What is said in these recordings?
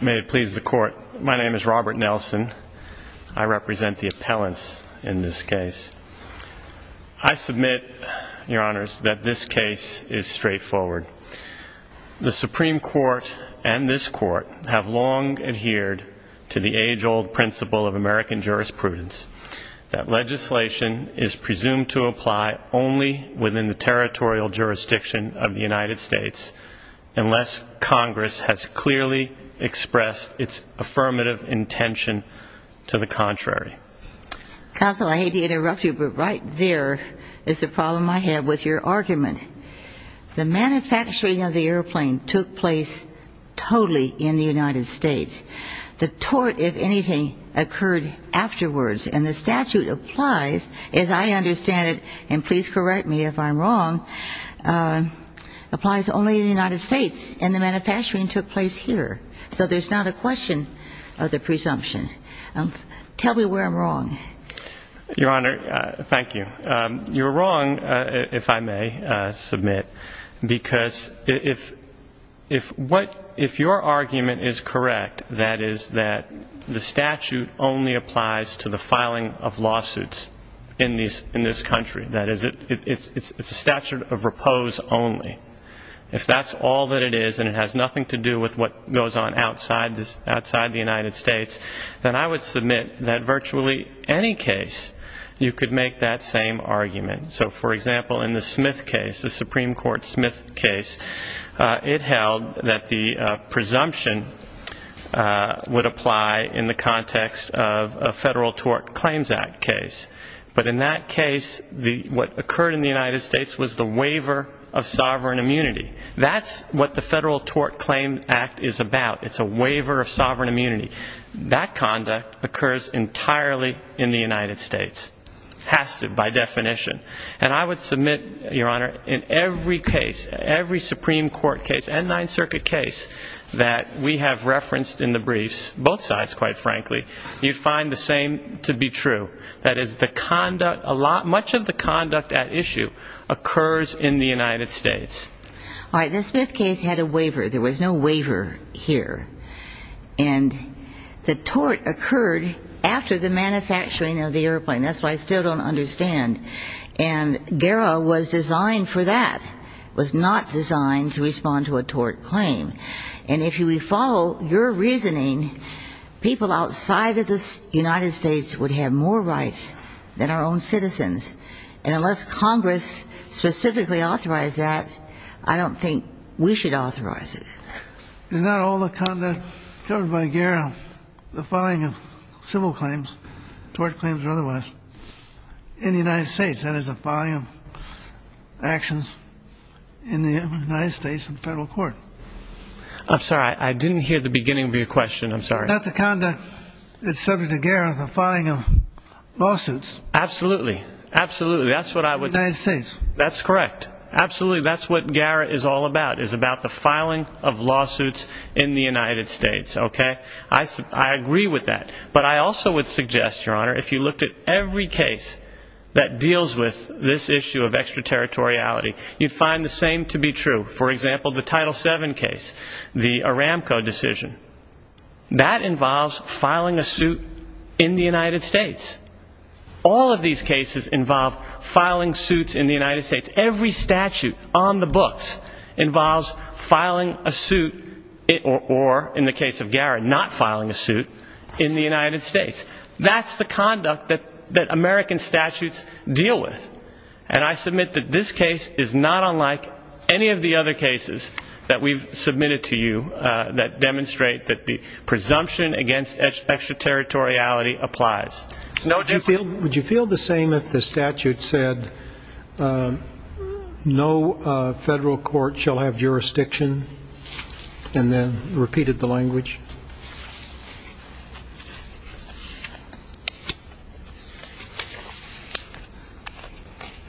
May it please the Court. My name is Robert Nelson. I represent the appellants in this case. I submit, Your Honors, that this case is straightforward. The Supreme Court and this Court have long adhered to the age-old principle of American jurisprudence that legislation is presumed to apply only within the territorial jurisdiction of the United States unless Congress has clearly expressed its affirmative intention to the contrary. Counsel, I hate to interrupt you, but right there is the problem I have with your argument. The manufacturing of the airplane took place totally in the United States. The tort, if anything, occurred afterwards, and the statute applies, as I understand it, and please correct me if I'm wrong, applies only in the United States, and the manufacturing took place here. So there's not a question of the presumption. Tell me where I'm wrong. Your Honor, thank you. You're wrong, if I may submit, because if your argument is correct, that is that the statute only applies to the filing of lawsuits in this country. That is, it's a statute of repose only. If that's all that it is and it has nothing to do with what goes on outside the United States, then I would submit that virtually any case you could make that same argument. So, for example, in the Smith case, the Supreme Court Smith case, it held that the presumption would apply in the context of a Federal Tort Claims Act case. But in that case, what occurred in the United States was the waiver of sovereign immunity. That's what the Federal Tort Claims Act is about. It's a waiver of sovereign immunity. That conduct occurs entirely in the United States. Has to, by definition. And I would submit, your Honor, in every case, every Supreme Court case and Ninth Circuit case that we have referenced in the briefs, both sides, quite frankly, you'd find the same to be true. That is, much of the conduct at issue occurs in the United States. All right, the Smith case had a waiver. There was no waiver here. And the tort occurred after the manufacturing of the airplane. That's why I still don't understand. And GERA was designed for that. It was not designed to respond to a tort claim. And if we follow your reasoning, people outside of the United States would have more rights than our own citizens. And unless Congress specifically authorized that, I don't think we should authorize it. Is not all the conduct covered by GERA the following of civil claims, tort claims or otherwise, in the United States? That is the following of actions in the United States in the Federal Court. I'm sorry, I didn't hear the beginning of your question. I'm sorry. Is not the conduct subject to GERA the following of lawsuits? Absolutely. Absolutely. That's what I would say. That's correct. Absolutely. That's what GERA is all about, is about the filing of lawsuits in the United States. OK, I agree with that. But I also would suggest, Your Honor, if you looked at every case that deals with this issue of extraterritoriality, you'd find the same to be true. For example, the Title VII case, the Aramco decision. That involves filing a suit in the United States. All of these cases involve filing suits in the United States. Every statute on the books involves filing a suit or, in the case of GERA, not filing a suit in the United States. That's the conduct that American statutes deal with. And I submit that this case is not unlike any of the other cases that we've submitted to you that demonstrate that the presumption against extraterritoriality applies. Would you feel the same if the statute said, no federal court shall have jurisdiction, and then repeated the language?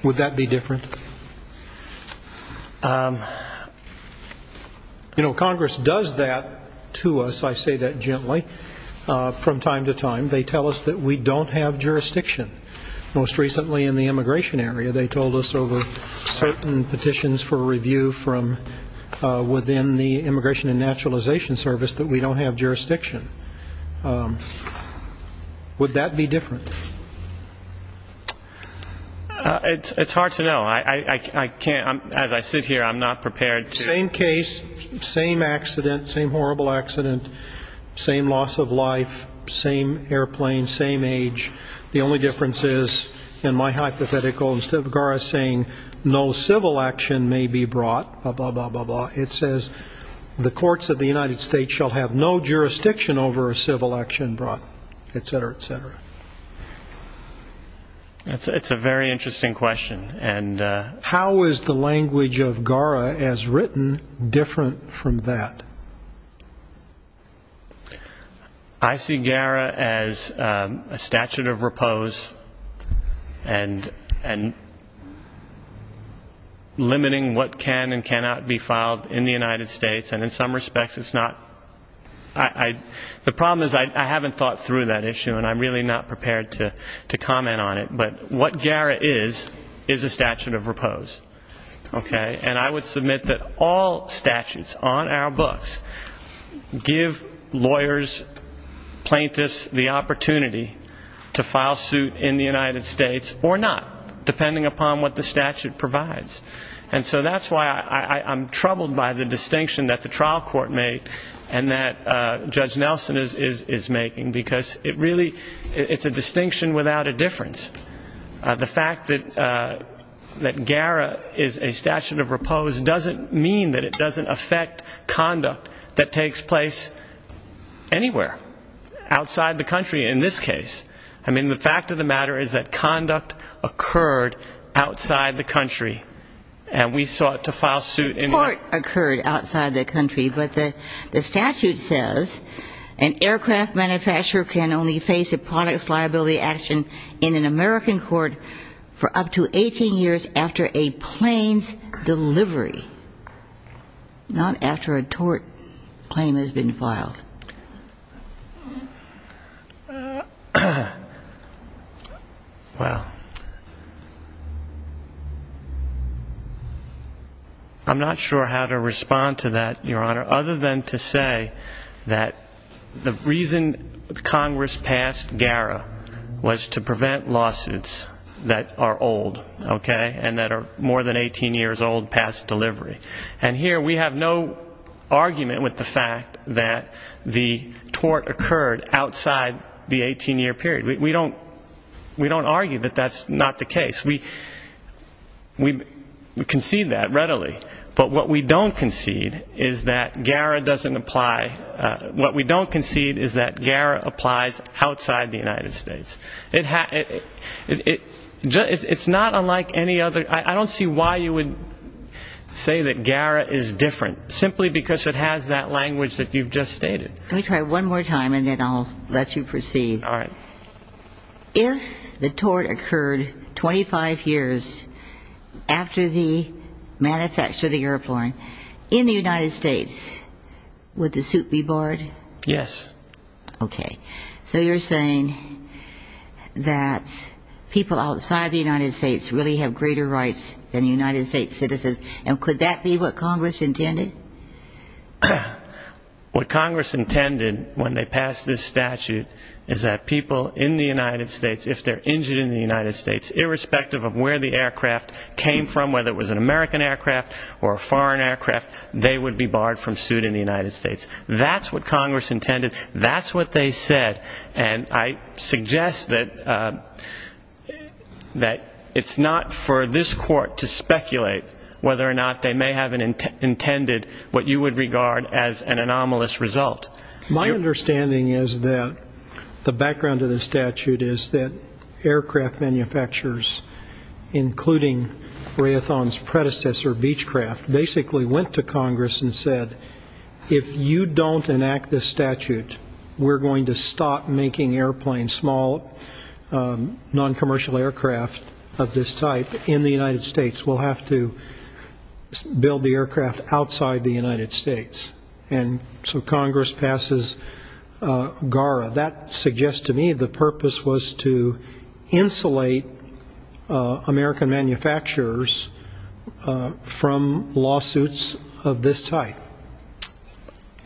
Would that be different? You know, Congress does that to us. I say that gently. From time to time, they tell us that we don't have jurisdiction. Most recently in the immigration area, they told us over certain petitions for review from within the Immigration and Naturalization Service that we don't have jurisdiction. Would that be different? It's hard to know. I can't. As I sit here, I'm not prepared to. Same case, same accident, same horrible accident, same loss of life, same airplane, same age. The only difference is, in my hypothetical, instead of GERA saying no civil action may be brought, it says the courts of the United States shall have no jurisdiction over a civil action brought, et cetera, et cetera. It's a very interesting question. How is the language of GERA as written different from that? I see GERA as a statute of repose and limiting what can and cannot be filed in the United States. And in some respects, it's not. The problem is I haven't thought through that issue, and I'm really not prepared to comment on it. But what GERA is, is a statute of repose. And I would submit that all statutes on our books give lawyers, plaintiffs, the opportunity to file suit in the United States or not, depending upon what the statute provides. And so that's why I'm troubled by the distinction that the trial court made and that Judge Nelson is making, because it really, it's a distinction without a difference. The fact that GERA is a statute of repose doesn't mean that it doesn't affect conduct that takes place anywhere outside the country, in this case. I mean, the fact of the matter is that conduct occurred outside the country, and we sought to file suit. But the statute says an aircraft manufacturer can only face a products liability action in an American court for up to 18 years after a plane's delivery. Not after a tort claim has been filed. Well, I'm not sure how to respond to that, Your Honor, other than to say that the reason Congress passed GERA was to prevent lawsuits that are old, okay, and that are more than 18 years old past delivery. And here, we have no argument with the fact that GERA is a statute of repose. The tort occurred outside the 18-year period. We don't argue that that's not the case. We concede that readily. But what we don't concede is that GERA doesn't apply, what we don't concede is that GERA applies outside the United States. It's not unlike any other. I don't see why you would say that GERA is different, simply because it has that language that you've just stated. Let me try one more time, and then I'll let you proceed. All right. If the tort occurred 25 years after the manufacture of the airplane in the United States, would the suit be barred? Yes. Okay. So you're saying that people outside the United States really have greater rights than United States citizens, and could that be what Congress intended? What Congress intended when they passed this statute is that people in the United States, if they're injured in the United States, irrespective of where the aircraft came from, whether it was an American aircraft or a foreign aircraft, they would be barred from suit in the United States. That's what Congress intended. That's what they said. And I suggest that it's not for this Court to speculate whether or not they may have intended what you would regard as an anomalous result. My understanding is that the background of the statute is that aircraft manufacturers, including Raytheon's predecessor, Beechcraft, basically went to Congress and said, if you don't enact this statute, we're going to stop making airplanes, small noncommercial aircraft of this type, in the United States. We'll have to build the aircraft outside the United States. And so Congress passes GARA. That suggests to me the purpose was to insulate American manufacturers from lawsuits of this type.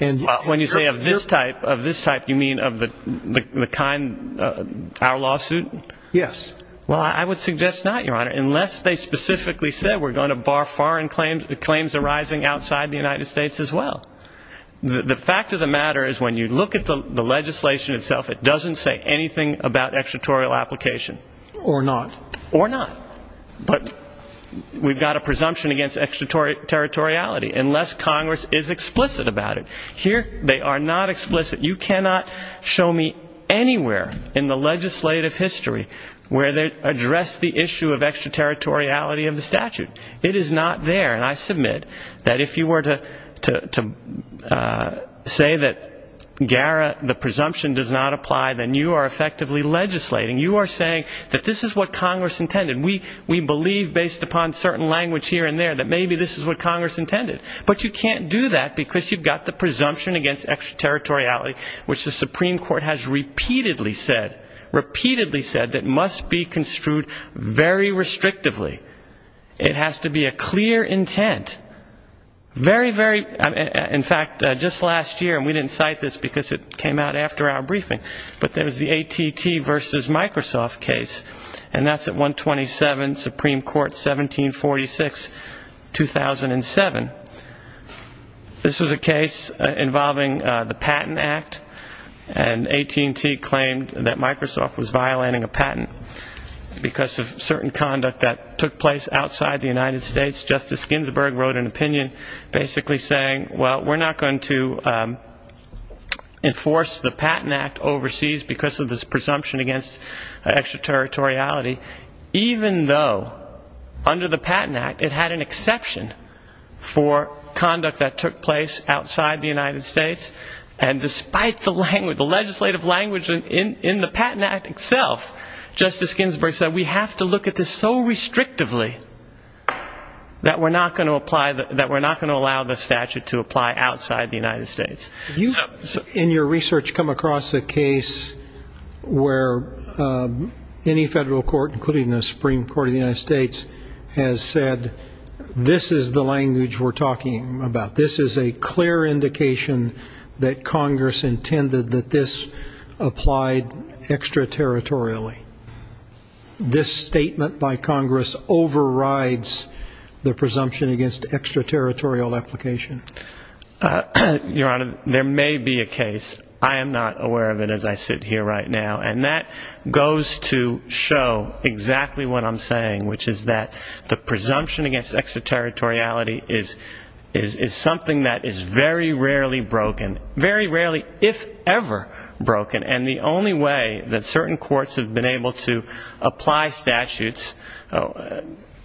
And when you say of this type, of this type, you mean of the kind, our lawsuit? Yes. Well, I would suggest not, Your Honor, unless they specifically said we're going to bar foreign claims arising outside the United States as well. The fact of the matter is when you look at the legislation itself, it doesn't say anything about extraterritorial application. Or not. Or not. But we've got a presumption against extraterritoriality, unless Congress is explicit about it. Here they are not explicit. You cannot show me anywhere in the legislative history where they address the issue of extraterritoriality of the statute. It is not there. And I submit that if you were to say that GARA, the presumption, does not apply, then you are effectively legislating. You are saying that this is what Congress intended. We believe, based upon certain language here and there, that maybe this is what Congress intended. But you can't do that because you've got the presumption against extraterritoriality, which the Supreme Court has repeatedly said, repeatedly said, that must be construed very restrictively. It has to be a clear intent. Very, very, in fact, just last year, and we didn't cite this because it came out after our briefing, but there was the AT&T versus Microsoft case, and that's at 127 Supreme Court, 1746, 2007. This was a case involving the Patent Act, and AT&T claimed that Microsoft was violating a patent because of certain conduct that took place outside the United States. Justice Ginsburg wrote an opinion basically saying, well, we're not going to enforce the Patent Act overseas because of this presumption against extraterritoriality, even though under the Patent Act, it had an exception for conduct that took place outside the United States. And despite the legislative language in the Patent Act itself, Justice Ginsburg said, we have to look at this so restrictively that we're not going to allow the statute to apply outside the United States. In your research, come across a case where any federal court, including the Supreme Court of the United States, has said, this is the language we're talking about. This is a clear indication that Congress intended that this applied extraterritorially. This statement by Congress overrides the presumption against extraterritorial application. Your Honor, there may be a case. I am not aware of it as I sit here right now, and that goes to show exactly what I'm saying, which is that the presumption against extraterritoriality is something that is very rarely broken. Very rarely, if ever, broken. And the only way that certain courts have been able to apply statutes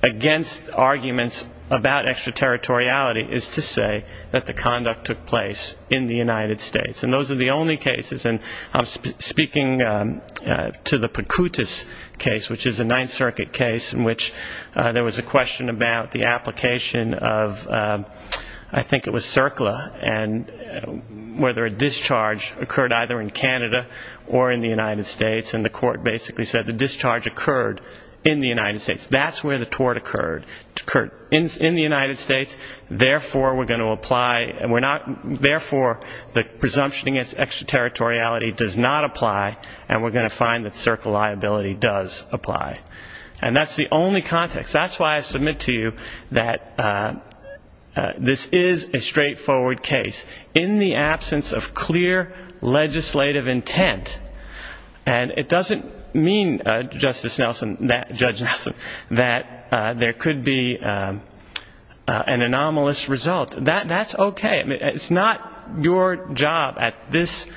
against arguments about extraterritoriality is to say that the conduct took place in the United States. And those are the only cases. And I'm speaking to the Percutus case, which is a Ninth Circuit case, in which there was a question about the application of, I think it was CERCLA, and whether a discharge occurred either in Canada or in the United States. And the court basically said the discharge occurred in the United States. That's where the tort occurred. Therefore, the presumption against extraterritoriality does not apply, and we're going to find that CERCLA liability does apply. And that's the only context. That's why I submit to you that this is a straightforward case in the absence of clear legislative intent. And it doesn't mean, Judge Nelson, that there could be an anomalous result. That's okay. It's not your job at this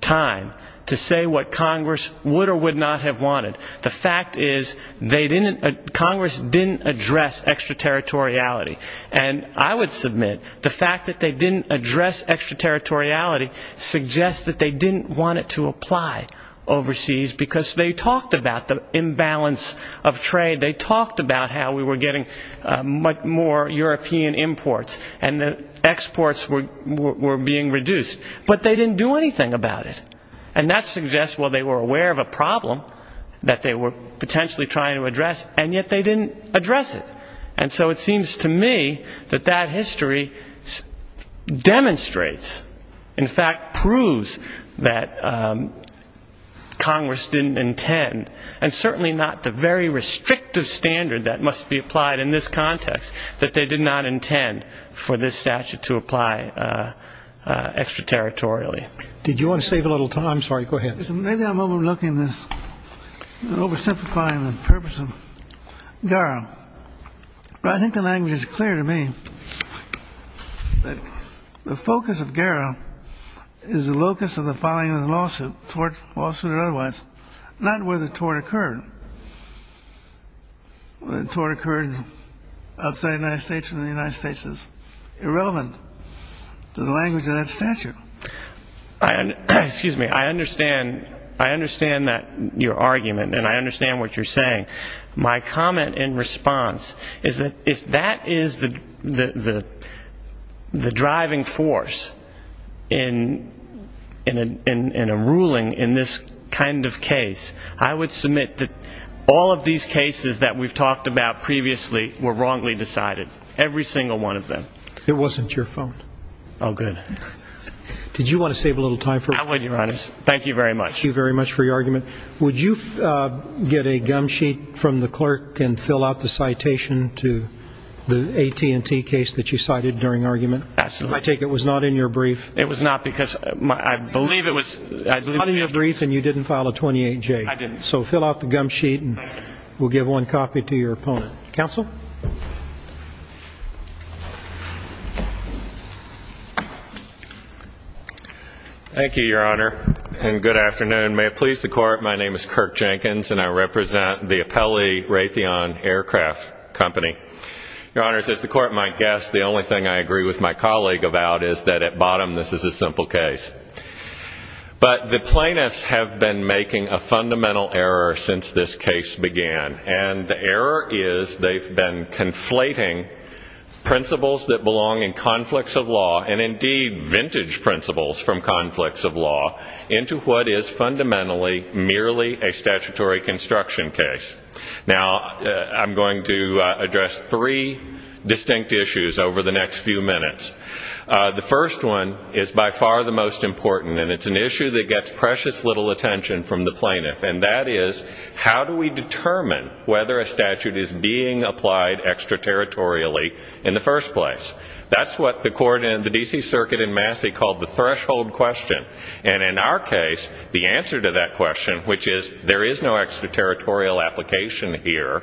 time to say what Congress would or would not have wanted. The fact is Congress didn't address extraterritoriality. And I would submit the fact that they didn't address extraterritoriality suggests that they didn't want it to apply overseas, because they talked about the imbalance of trade. They talked about how we were getting much more European imports, and the exports were being reduced. But they didn't do anything about it. And that suggests, well, they were aware of a problem that they were potentially trying to address, and yet they didn't address it. And so it seems to me that that history demonstrates, in fact proves that Congress didn't intend, and certainly not the very restrictive standard that must be applied in this context, that they did not intend for this statute to apply extraterritorially. Did you want to save a little time? I'm sorry. Go ahead. Maybe I'm overlooking this, oversimplifying the purpose of GARA. But I think the language is clear to me. The focus of GARA is the locus of the filing of the lawsuit, tort lawsuit or otherwise, not where the tort occurred. Whether the tort occurred outside the United States or in the United States is irrelevant to the language of that statute. Excuse me. I understand that your argument, and I understand what you're saying. My comment in response is that if that is the driving force in a ruling in this kind of case, I would submit that all of these cases that we've talked about previously were wrongly decided, every single one of them. It wasn't your phone. Oh, good. Did you want to save a little time for me? I would, Your Honor. Thank you very much. Thank you very much for your argument. Would you get a gum sheet from the clerk and fill out the citation to the AT&T case that you cited during argument? Absolutely. I take it it was not in your brief. It was not because I believe it was. It was not in your brief and you didn't file a 28-J. I didn't. So fill out the gum sheet and we'll give one copy to your opponent. Counsel? Thank you, Your Honor, and good afternoon. May it please the Court, my name is Kirk Jenkins, and I represent the Apelli Raytheon Aircraft Company. Your Honor, as the Court might guess, the only thing I agree with my colleague about is that at bottom this is a simple case. But the plaintiffs have been making a fundamental error since this case began, and the error is they've been conflating principles that belong in conflicts of law and indeed vintage principles from conflicts of law into what is fundamentally merely a statutory construction case. Now, I'm going to address three distinct issues over the next few minutes. The first one is by far the most important, and it's an issue that gets precious little attention from the plaintiff, and that is how do we determine whether a statute is being applied extraterritorially in the first place? That's what the court in the D.C. Circuit in Massey called the threshold question. And in our case, the answer to that question, which is there is no extraterritorial application here,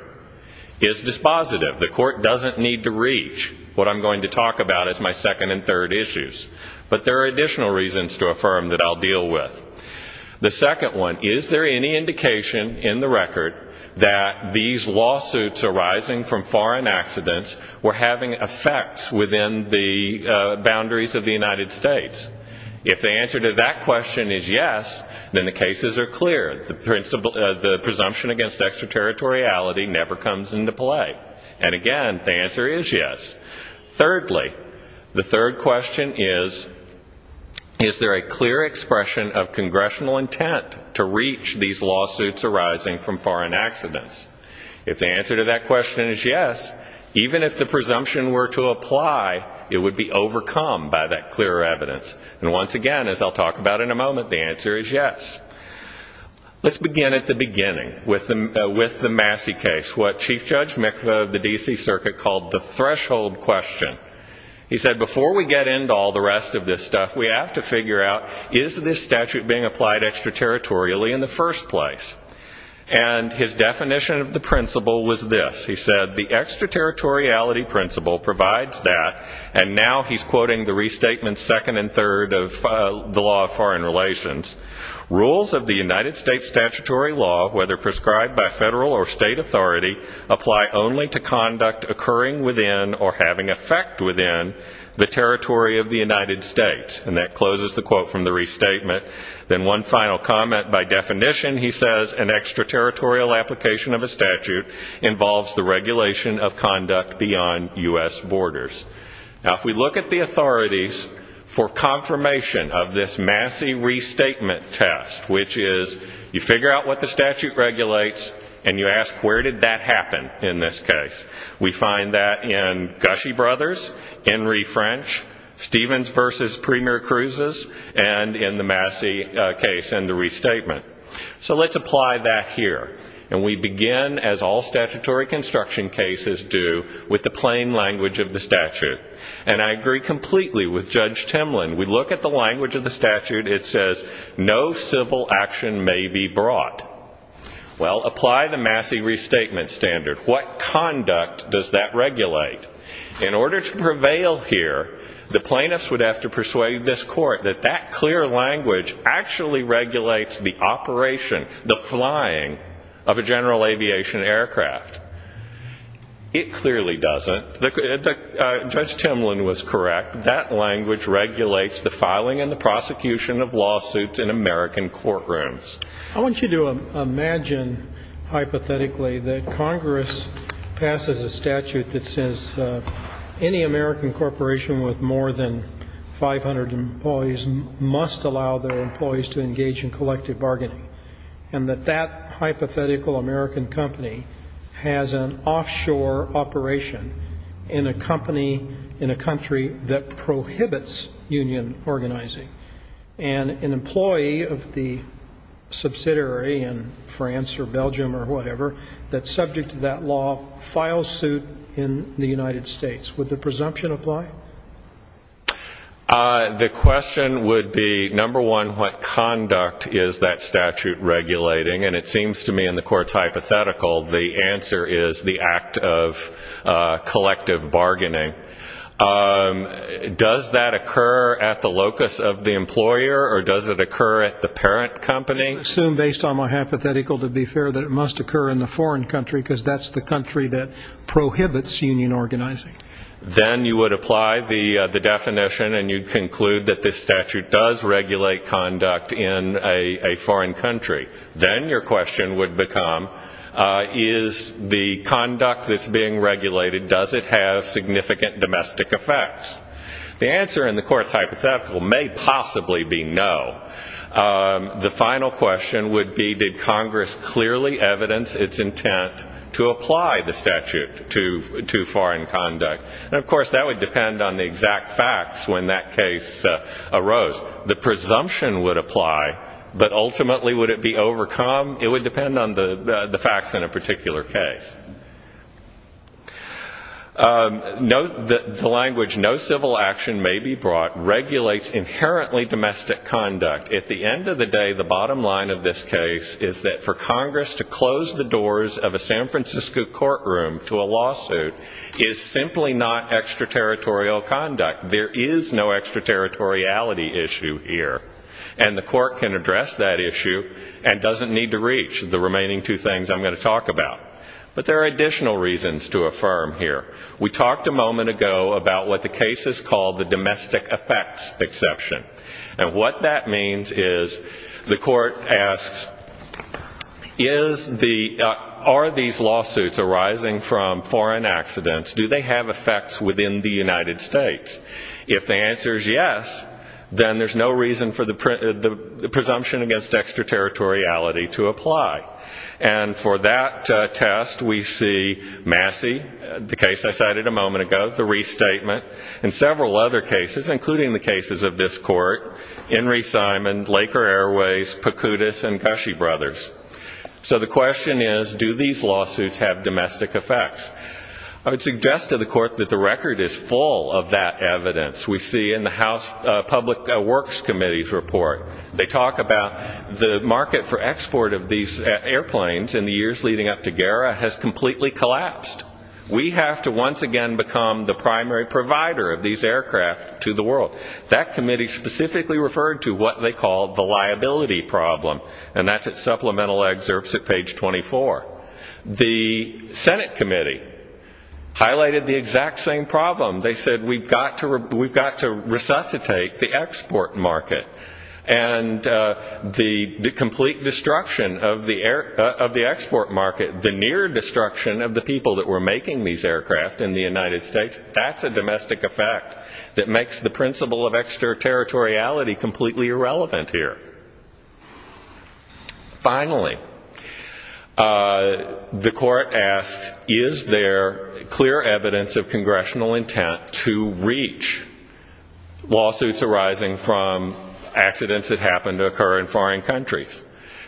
is dispositive. The Court doesn't need to reach what I'm going to talk about as my second and third issues. But there are additional reasons to affirm that I'll deal with. The second one, is there any indication in the record that these lawsuits arising from foreign accidents were having effects within the boundaries of the United States? If the answer to that question is yes, then the cases are clear. The presumption against extraterritoriality never comes into play. And again, the answer is yes. Thirdly, the third question is, is there a clear expression of congressional intent to reach these lawsuits arising from foreign accidents? If the answer to that question is yes, even if the presumption were to apply, it would be overcome by that clear evidence. And once again, as I'll talk about in a moment, the answer is yes. Let's begin at the beginning with the Massey case, what Chief Judge Mikla of the D.C. Circuit called the threshold question. He said before we get into all the rest of this stuff, we have to figure out, is this statute being applied extraterritorially in the first place? And his definition of the principle was this. He said, the extraterritoriality principle provides that, and now he's quoting the restatement second and third of the law of foreign relations. Rules of the United States statutory law, whether prescribed by federal or state authority, apply only to conduct occurring within or having effect within the territory of the United States. And that closes the quote from the restatement. Then one final comment. By definition, he says, an extraterritorial application of a statute involves the regulation of conduct beyond U.S. borders. Now, if we look at the authorities for confirmation of this Massey restatement test, which is you figure out what the statute regulates, and you ask, where did that happen in this case? We find that in Gushy Brothers, Henry French, Stevens v. Premier Cruzes, and in the Massey case and the restatement. So let's apply that here. And we begin, as all statutory construction cases do, with the plain language of the statute. And I agree completely with Judge Timlin. We look at the language of the statute. It says, no civil action may be brought. Well, apply the Massey restatement standard. What conduct does that regulate? In order to prevail here, the plaintiffs would have to persuade this court that that clear language actually regulates the operation, the flying of a general aviation aircraft. It clearly doesn't. Judge Timlin was correct. That language regulates the filing and the prosecution of lawsuits in American courtrooms. I want you to imagine hypothetically that Congress passes a statute that says any American corporation with more than 500 employees must allow their employees to engage in collective bargaining, and that that hypothetical American company has an offshore operation in a company, in a country that prohibits union organizing. And an employee of the subsidiary in France or Belgium or whatever that's subject to that law files suit in the United States. Would the presumption apply? The question would be, number one, what conduct is that statute regulating? And it seems to me in the court's hypothetical the answer is the act of collective bargaining. Does that occur at the locus of the employer or does it occur at the parent company? I assume based on my hypothetical, to be fair, that it must occur in the foreign country because that's the country that prohibits union organizing. Then you would apply the definition and you'd conclude that this statute does regulate conduct in a foreign country. Then your question would become, is the conduct that's being regulated, does it have significant domestic effects? The answer in the court's hypothetical may possibly be no. The final question would be, did Congress clearly evidence its intent to apply the statute to foreign conduct? And, of course, that would depend on the exact facts when that case arose. The presumption would apply, but ultimately would it be overcome? It would depend on the facts in a particular case. Note that the language, no civil action may be brought, regulates inherently domestic conduct. At the end of the day, the bottom line of this case is that for Congress to close the doors of a San Francisco courtroom to a lawsuit is simply not extraterritorial conduct. In fact, there is no extraterritoriality issue here, and the court can address that issue and doesn't need to reach the remaining two things I'm going to talk about. But there are additional reasons to affirm here. We talked a moment ago about what the case is called the domestic effects exception, and what that means is the court asks, are these lawsuits arising from foreign accidents? Do they have effects within the United States? If the answer is yes, then there's no reason for the presumption against extraterritoriality to apply. And for that test, we see Massey, the case I cited a moment ago, the restatement, and several other cases, including the cases of this court, Henry Simon, Laker Airways, Pocutis, and Gushy Brothers. So the question is, do these lawsuits have domestic effects? I would suggest to the court that the record is full of that evidence. We see in the House Public Works Committee's report, they talk about the market for export of these airplanes in the years leading up to GERA has completely collapsed. We have to once again become the primary provider of these aircraft to the world. That committee specifically referred to what they called the liability problem, and that's at supplemental excerpts at page 24. The Senate committee highlighted the exact same problem. They said we've got to resuscitate the export market, and the complete destruction of the export market, the near destruction of the people that were making these aircraft in the United States, that's a domestic effect that makes the principle of extraterritoriality completely irrelevant here. Finally, the court asked, is there clear evidence of congressional intent to reach lawsuits arising from accidents that happen to occur in foreign countries?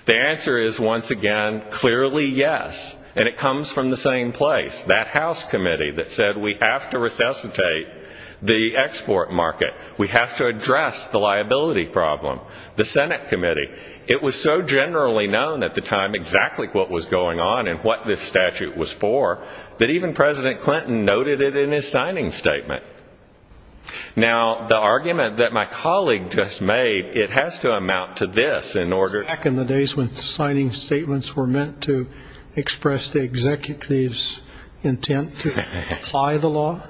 The answer is, once again, clearly yes, and it comes from the same place, that House committee that said we have to resuscitate the export market. We have to address the liability problem. The Senate committee. It was so generally known at the time exactly what was going on and what this statute was for that even President Clinton noted it in his signing statement. Now, the argument that my colleague just made, it has to amount to this. Back in the days when signing statements were meant to express the executive's intent to apply the law?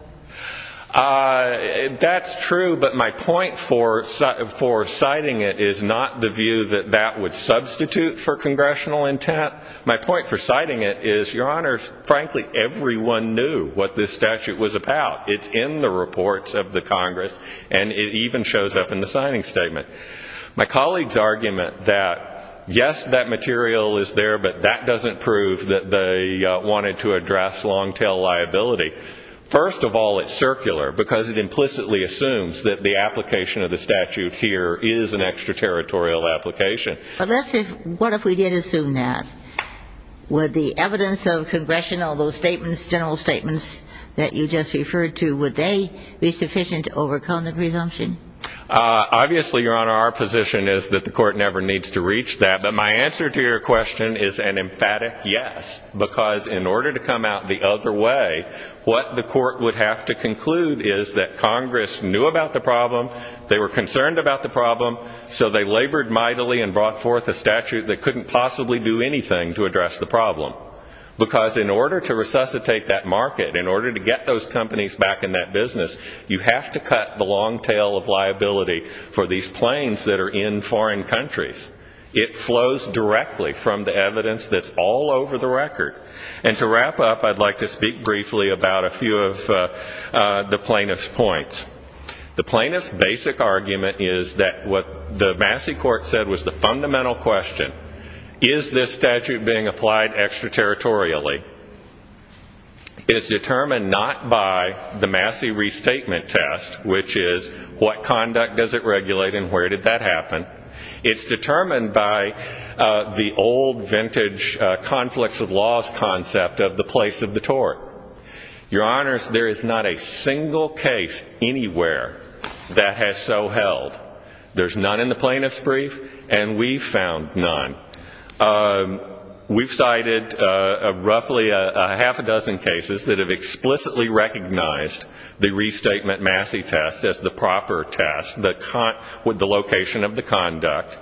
That's true, but my point for citing it is not the view that that would substitute for congressional intent. My point for citing it is, Your Honor, frankly, everyone knew what this statute was about. It's in the reports of the Congress, and it even shows up in the signing statement. My colleague's argument that, yes, that material is there, but that doesn't prove that they wanted to address long-tail liability. First of all, it's circular because it implicitly assumes that the application of the statute here is an extraterritorial application. But let's say, what if we did assume that? Would the evidence of congressional, those general statements that you just referred to, would they be sufficient to overcome the presumption? Obviously, Your Honor, our position is that the court never needs to reach that, but my answer to your question is an emphatic yes, because in order to come out the other way, what the court would have to conclude is that Congress knew about the problem, they were concerned about the problem, so they labored mightily and brought forth a statute that couldn't possibly do anything to address the problem. Because in order to resuscitate that market, in order to get those companies back in that business, you have to cut the long tail of liability for these planes that are in foreign countries. It flows directly from the evidence that's all over the record. And to wrap up, I'd like to speak briefly about a few of the plaintiff's points. The plaintiff's basic argument is that what the Massey court said was the fundamental question, is this statute being applied extraterritorially? It is determined not by the Massey Restatement Test, which is what conduct does it regulate and where did that happen? It's determined by the old vintage conflicts of laws concept of the place of the tort. Your Honors, there is not a single case anywhere that has so held. There's none in the plaintiff's brief, and we've found none. We've cited roughly a half a dozen cases that have explicitly recognized the Restatement Massey Test as the proper test, with the location of the conduct.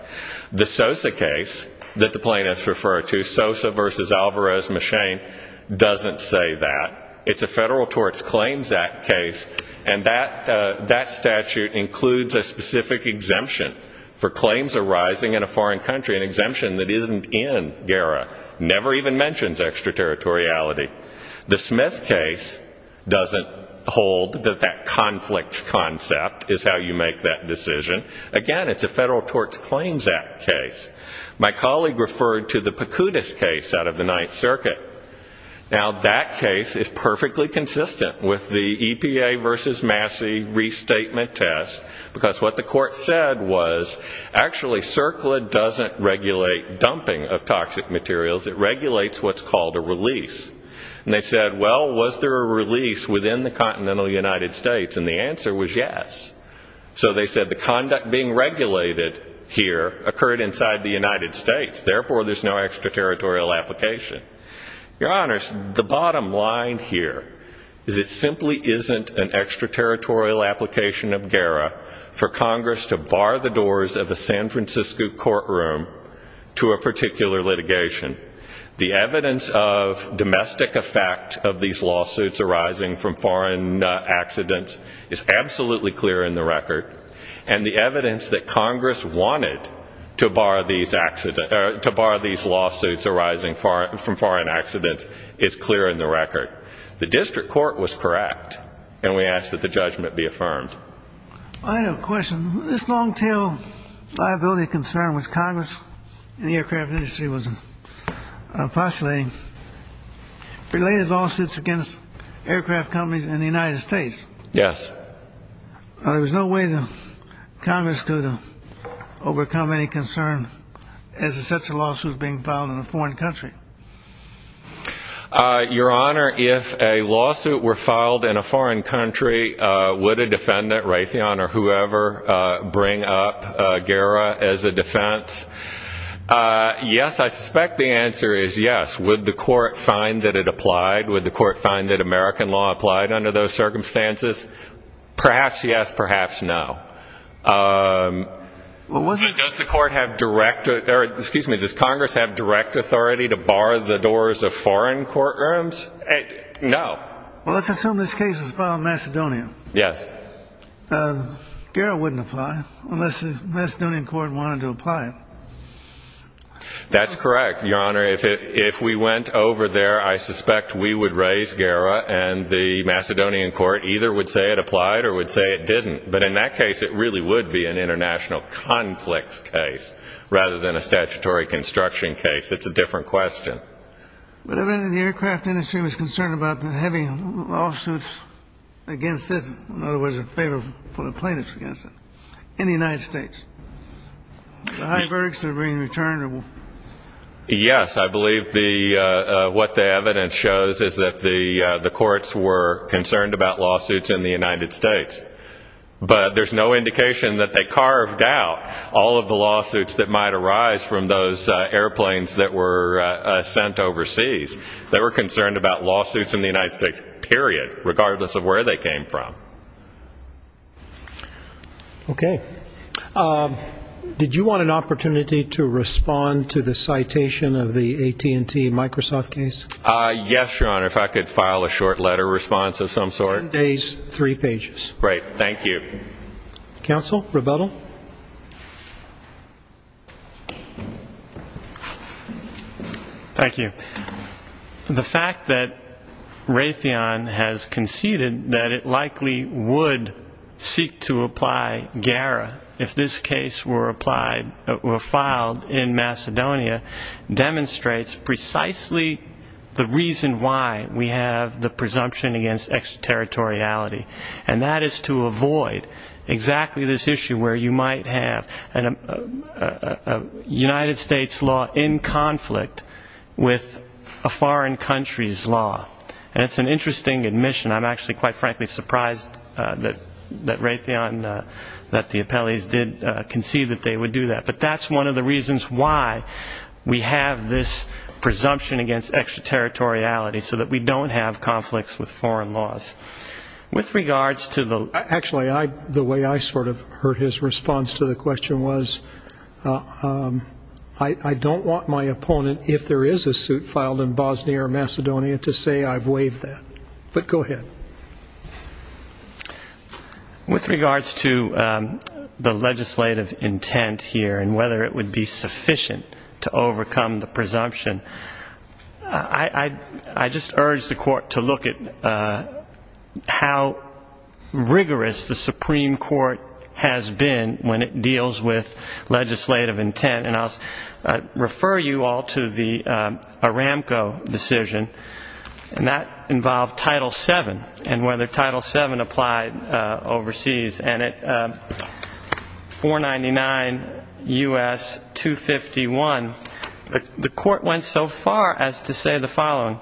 The Sosa case that the plaintiffs refer to, Sosa v. Alvarez-Machin, doesn't say that. It's a Federal Torts Claims Act case, and that statute includes a specific exemption for claims arising in a foreign country, an exemption that isn't in GERA, never even mentions extraterritoriality. The Smith case doesn't hold that that conflicts concept is how you make that decision. Again, it's a Federal Torts Claims Act case. My colleague referred to the Picudis case out of the Ninth Circuit. Now, that case is perfectly consistent with the EPA v. Massey Restatement Test, because what the court said was actually CERCLA doesn't regulate dumping of toxic materials. It regulates what's called a release. And they said, well, was there a release within the continental United States? And the answer was yes. So they said the conduct being regulated here occurred inside the United States. Therefore, there's no extraterritorial application. Your Honors, the bottom line here is it simply isn't an extraterritorial application of GERA for Congress to bar the doors of a San Francisco courtroom to a particular litigation. The evidence of domestic effect of these lawsuits arising from foreign accidents is absolutely clear in the record. And the evidence that Congress wanted to bar these lawsuits arising from foreign accidents is clear in the record. The district court was correct, and we ask that the judgment be affirmed. I have a question. This long-tail liability concern which Congress and the aircraft industry was postulating related lawsuits against aircraft companies in the United States. Yes. There was no way that Congress could overcome any concern as it sets a lawsuit being filed in a foreign country. Your Honor, if a lawsuit were filed in a foreign country, would a defendant, Raytheon or whoever, bring up GERA as a defense? Yes, I suspect the answer is yes. Would the court find that it applied? Would the court find that American law applied under those circumstances? Perhaps yes, perhaps no. Does Congress have direct authority to bar the doors of foreign courtrooms? No. Well, let's assume this case was filed in Macedonia. Yes. GERA wouldn't apply unless the Macedonian court wanted to apply it. That's correct, Your Honor. If we went over there, I suspect we would raise GERA, and the Macedonian court either would say it applied or would say it didn't. But in that case, it really would be an international conflicts case rather than a statutory construction case. It's a different question. But the aircraft industry was concerned about the heavy lawsuits against it, in other words, in favor of the plaintiffs against it, in the United States. The high verdicts are being returned? Yes. I believe what the evidence shows is that the courts were concerned about lawsuits in the United States. But there's no indication that they carved out all of the lawsuits that might arise from those airplanes that were sent overseas. They were concerned about lawsuits in the United States, period, regardless of where they came from. Okay. Did you want an opportunity to respond to the citation of the AT&T-Microsoft case? Yes, Your Honor, if I could file a short letter response of some sort. Ten days, three pages. Great. Thank you. Counsel, rebuttal. Thank you. The fact that Raytheon has conceded that it likely would seek to apply GARA if this case were filed in Macedonia demonstrates precisely the reason why we have the presumption against extraterritoriality, and that is to avoid exactly this issue where you might have a United States law in conflict with a foreign country's law. And it's an interesting admission. I'm actually quite frankly surprised that Raytheon, that the appellees did concede that they would do that. But that's one of the reasons why we have this presumption against extraterritoriality, so that we don't have conflicts with foreign laws. With regards to the Actually, the way I sort of heard his response to the question was, I don't want my opponent, if there is a suit filed in Bosnia or Macedonia, to say I've waived that. But go ahead. With regards to the legislative intent here and whether it would be sufficient to overcome the presumption, I just urge the Court to look at how rigorous the Supreme Court has been when it deals with legislative intent. And I'll refer you all to the Aramco decision, and that involved Title VII and whether Title VII applied overseas. And at 499 U.S. 251, the Court went so far as to say the following.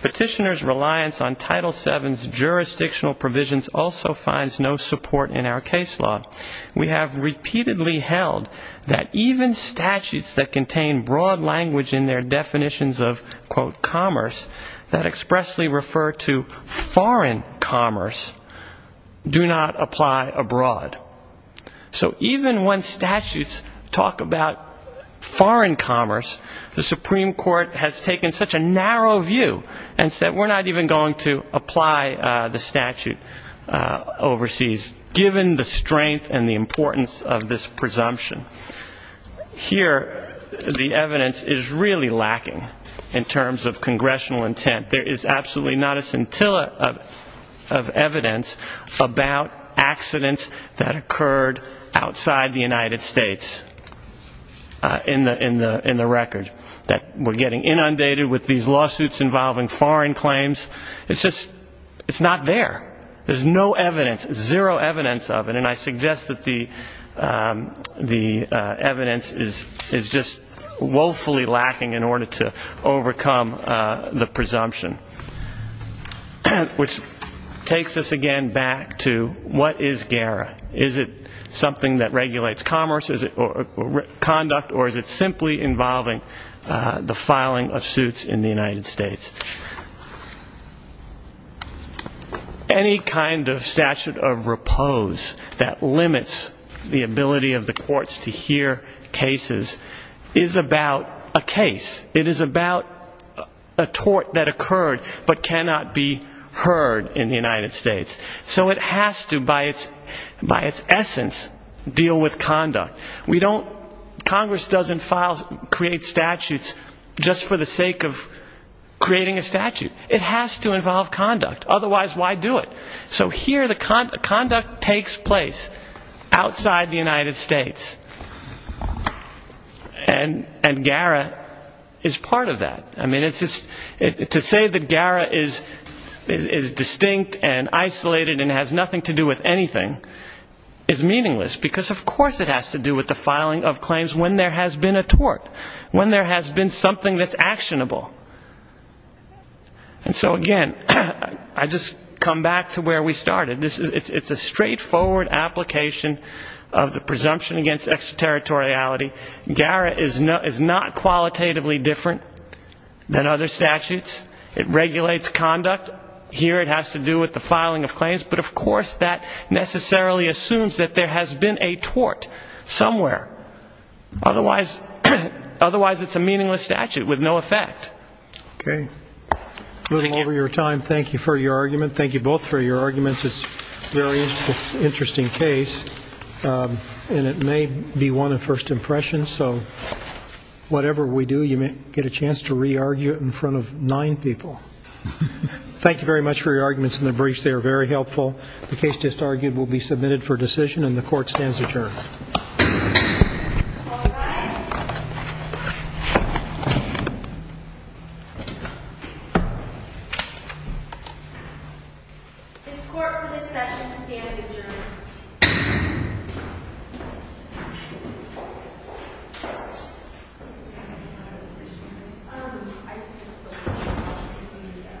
Petitioners' reliance on Title VII's jurisdictional provisions also finds no support in our case law. We have repeatedly held that even statutes that contain broad language in their definitions of, quote, that expressly refer to foreign commerce do not apply abroad. So even when statutes talk about foreign commerce, the Supreme Court has taken such a narrow view and said we're not even going to apply the statute overseas, given the strength and the importance of this presumption. Here, the evidence is really lacking in terms of congressional intent. There is absolutely not a scintilla of evidence about accidents that occurred outside the United States in the record, that we're getting inundated with these lawsuits involving foreign claims. It's just not there. There's no evidence, zero evidence of it. And I suggest that the evidence is just woefully lacking in order to overcome the presumption, which takes us again back to what is GARA? Is it something that regulates commerce, conduct, or is it simply involving the filing of suits in the United States? Any kind of statute of repose that limits the ability of the courts to hear cases is about a case. It is about a tort that occurred but cannot be heard in the United States. So it has to, by its essence, deal with conduct. Congress doesn't create statutes just for the sake of creating a statute. It has to involve conduct. Otherwise, why do it? So here, the conduct takes place outside the United States. And GARA is part of that. I mean, to say that GARA is distinct and isolated and has nothing to do with anything is meaningless, because of course it has to do with the filing of claims when there has been a tort, when there has been something that's actionable. And so, again, I just come back to where we started. It's a straightforward application of the presumption against extraterritoriality. GARA is not qualitatively different than other statutes. It regulates conduct. Here it has to do with the filing of claims. But, of course, that necessarily assumes that there has been a tort somewhere. Otherwise, it's a meaningless statute with no effect. Okay. Moving over your time, thank you for your argument. Thank you both for your arguments. It's a very interesting case, and it may be one of first impressions. So whatever we do, you may get a chance to re-argue it in front of nine people. Thank you very much for your arguments in the briefs. They are very helpful. The case just argued will be submitted for decision, and the Court stands adjourned. All rise. This Court for this session stands adjourned. This Court is adjourned. Okay. It's me again.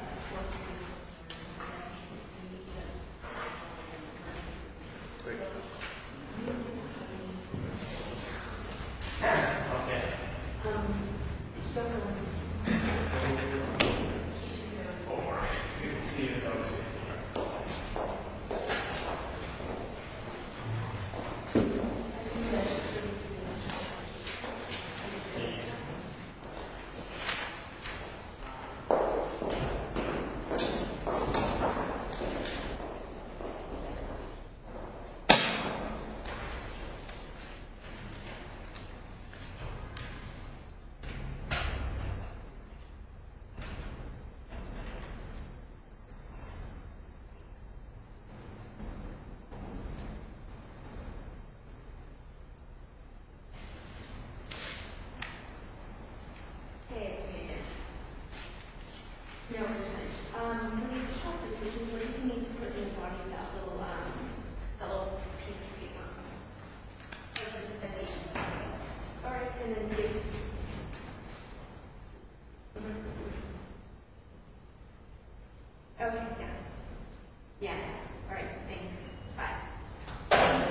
No, I'm just kidding. In the additional citations, where do you see me to put the little piece of paper? Or just the citations? All right. And then we… Oh, yeah. Yeah. All right. Thanks. Bye. Thank you. All right.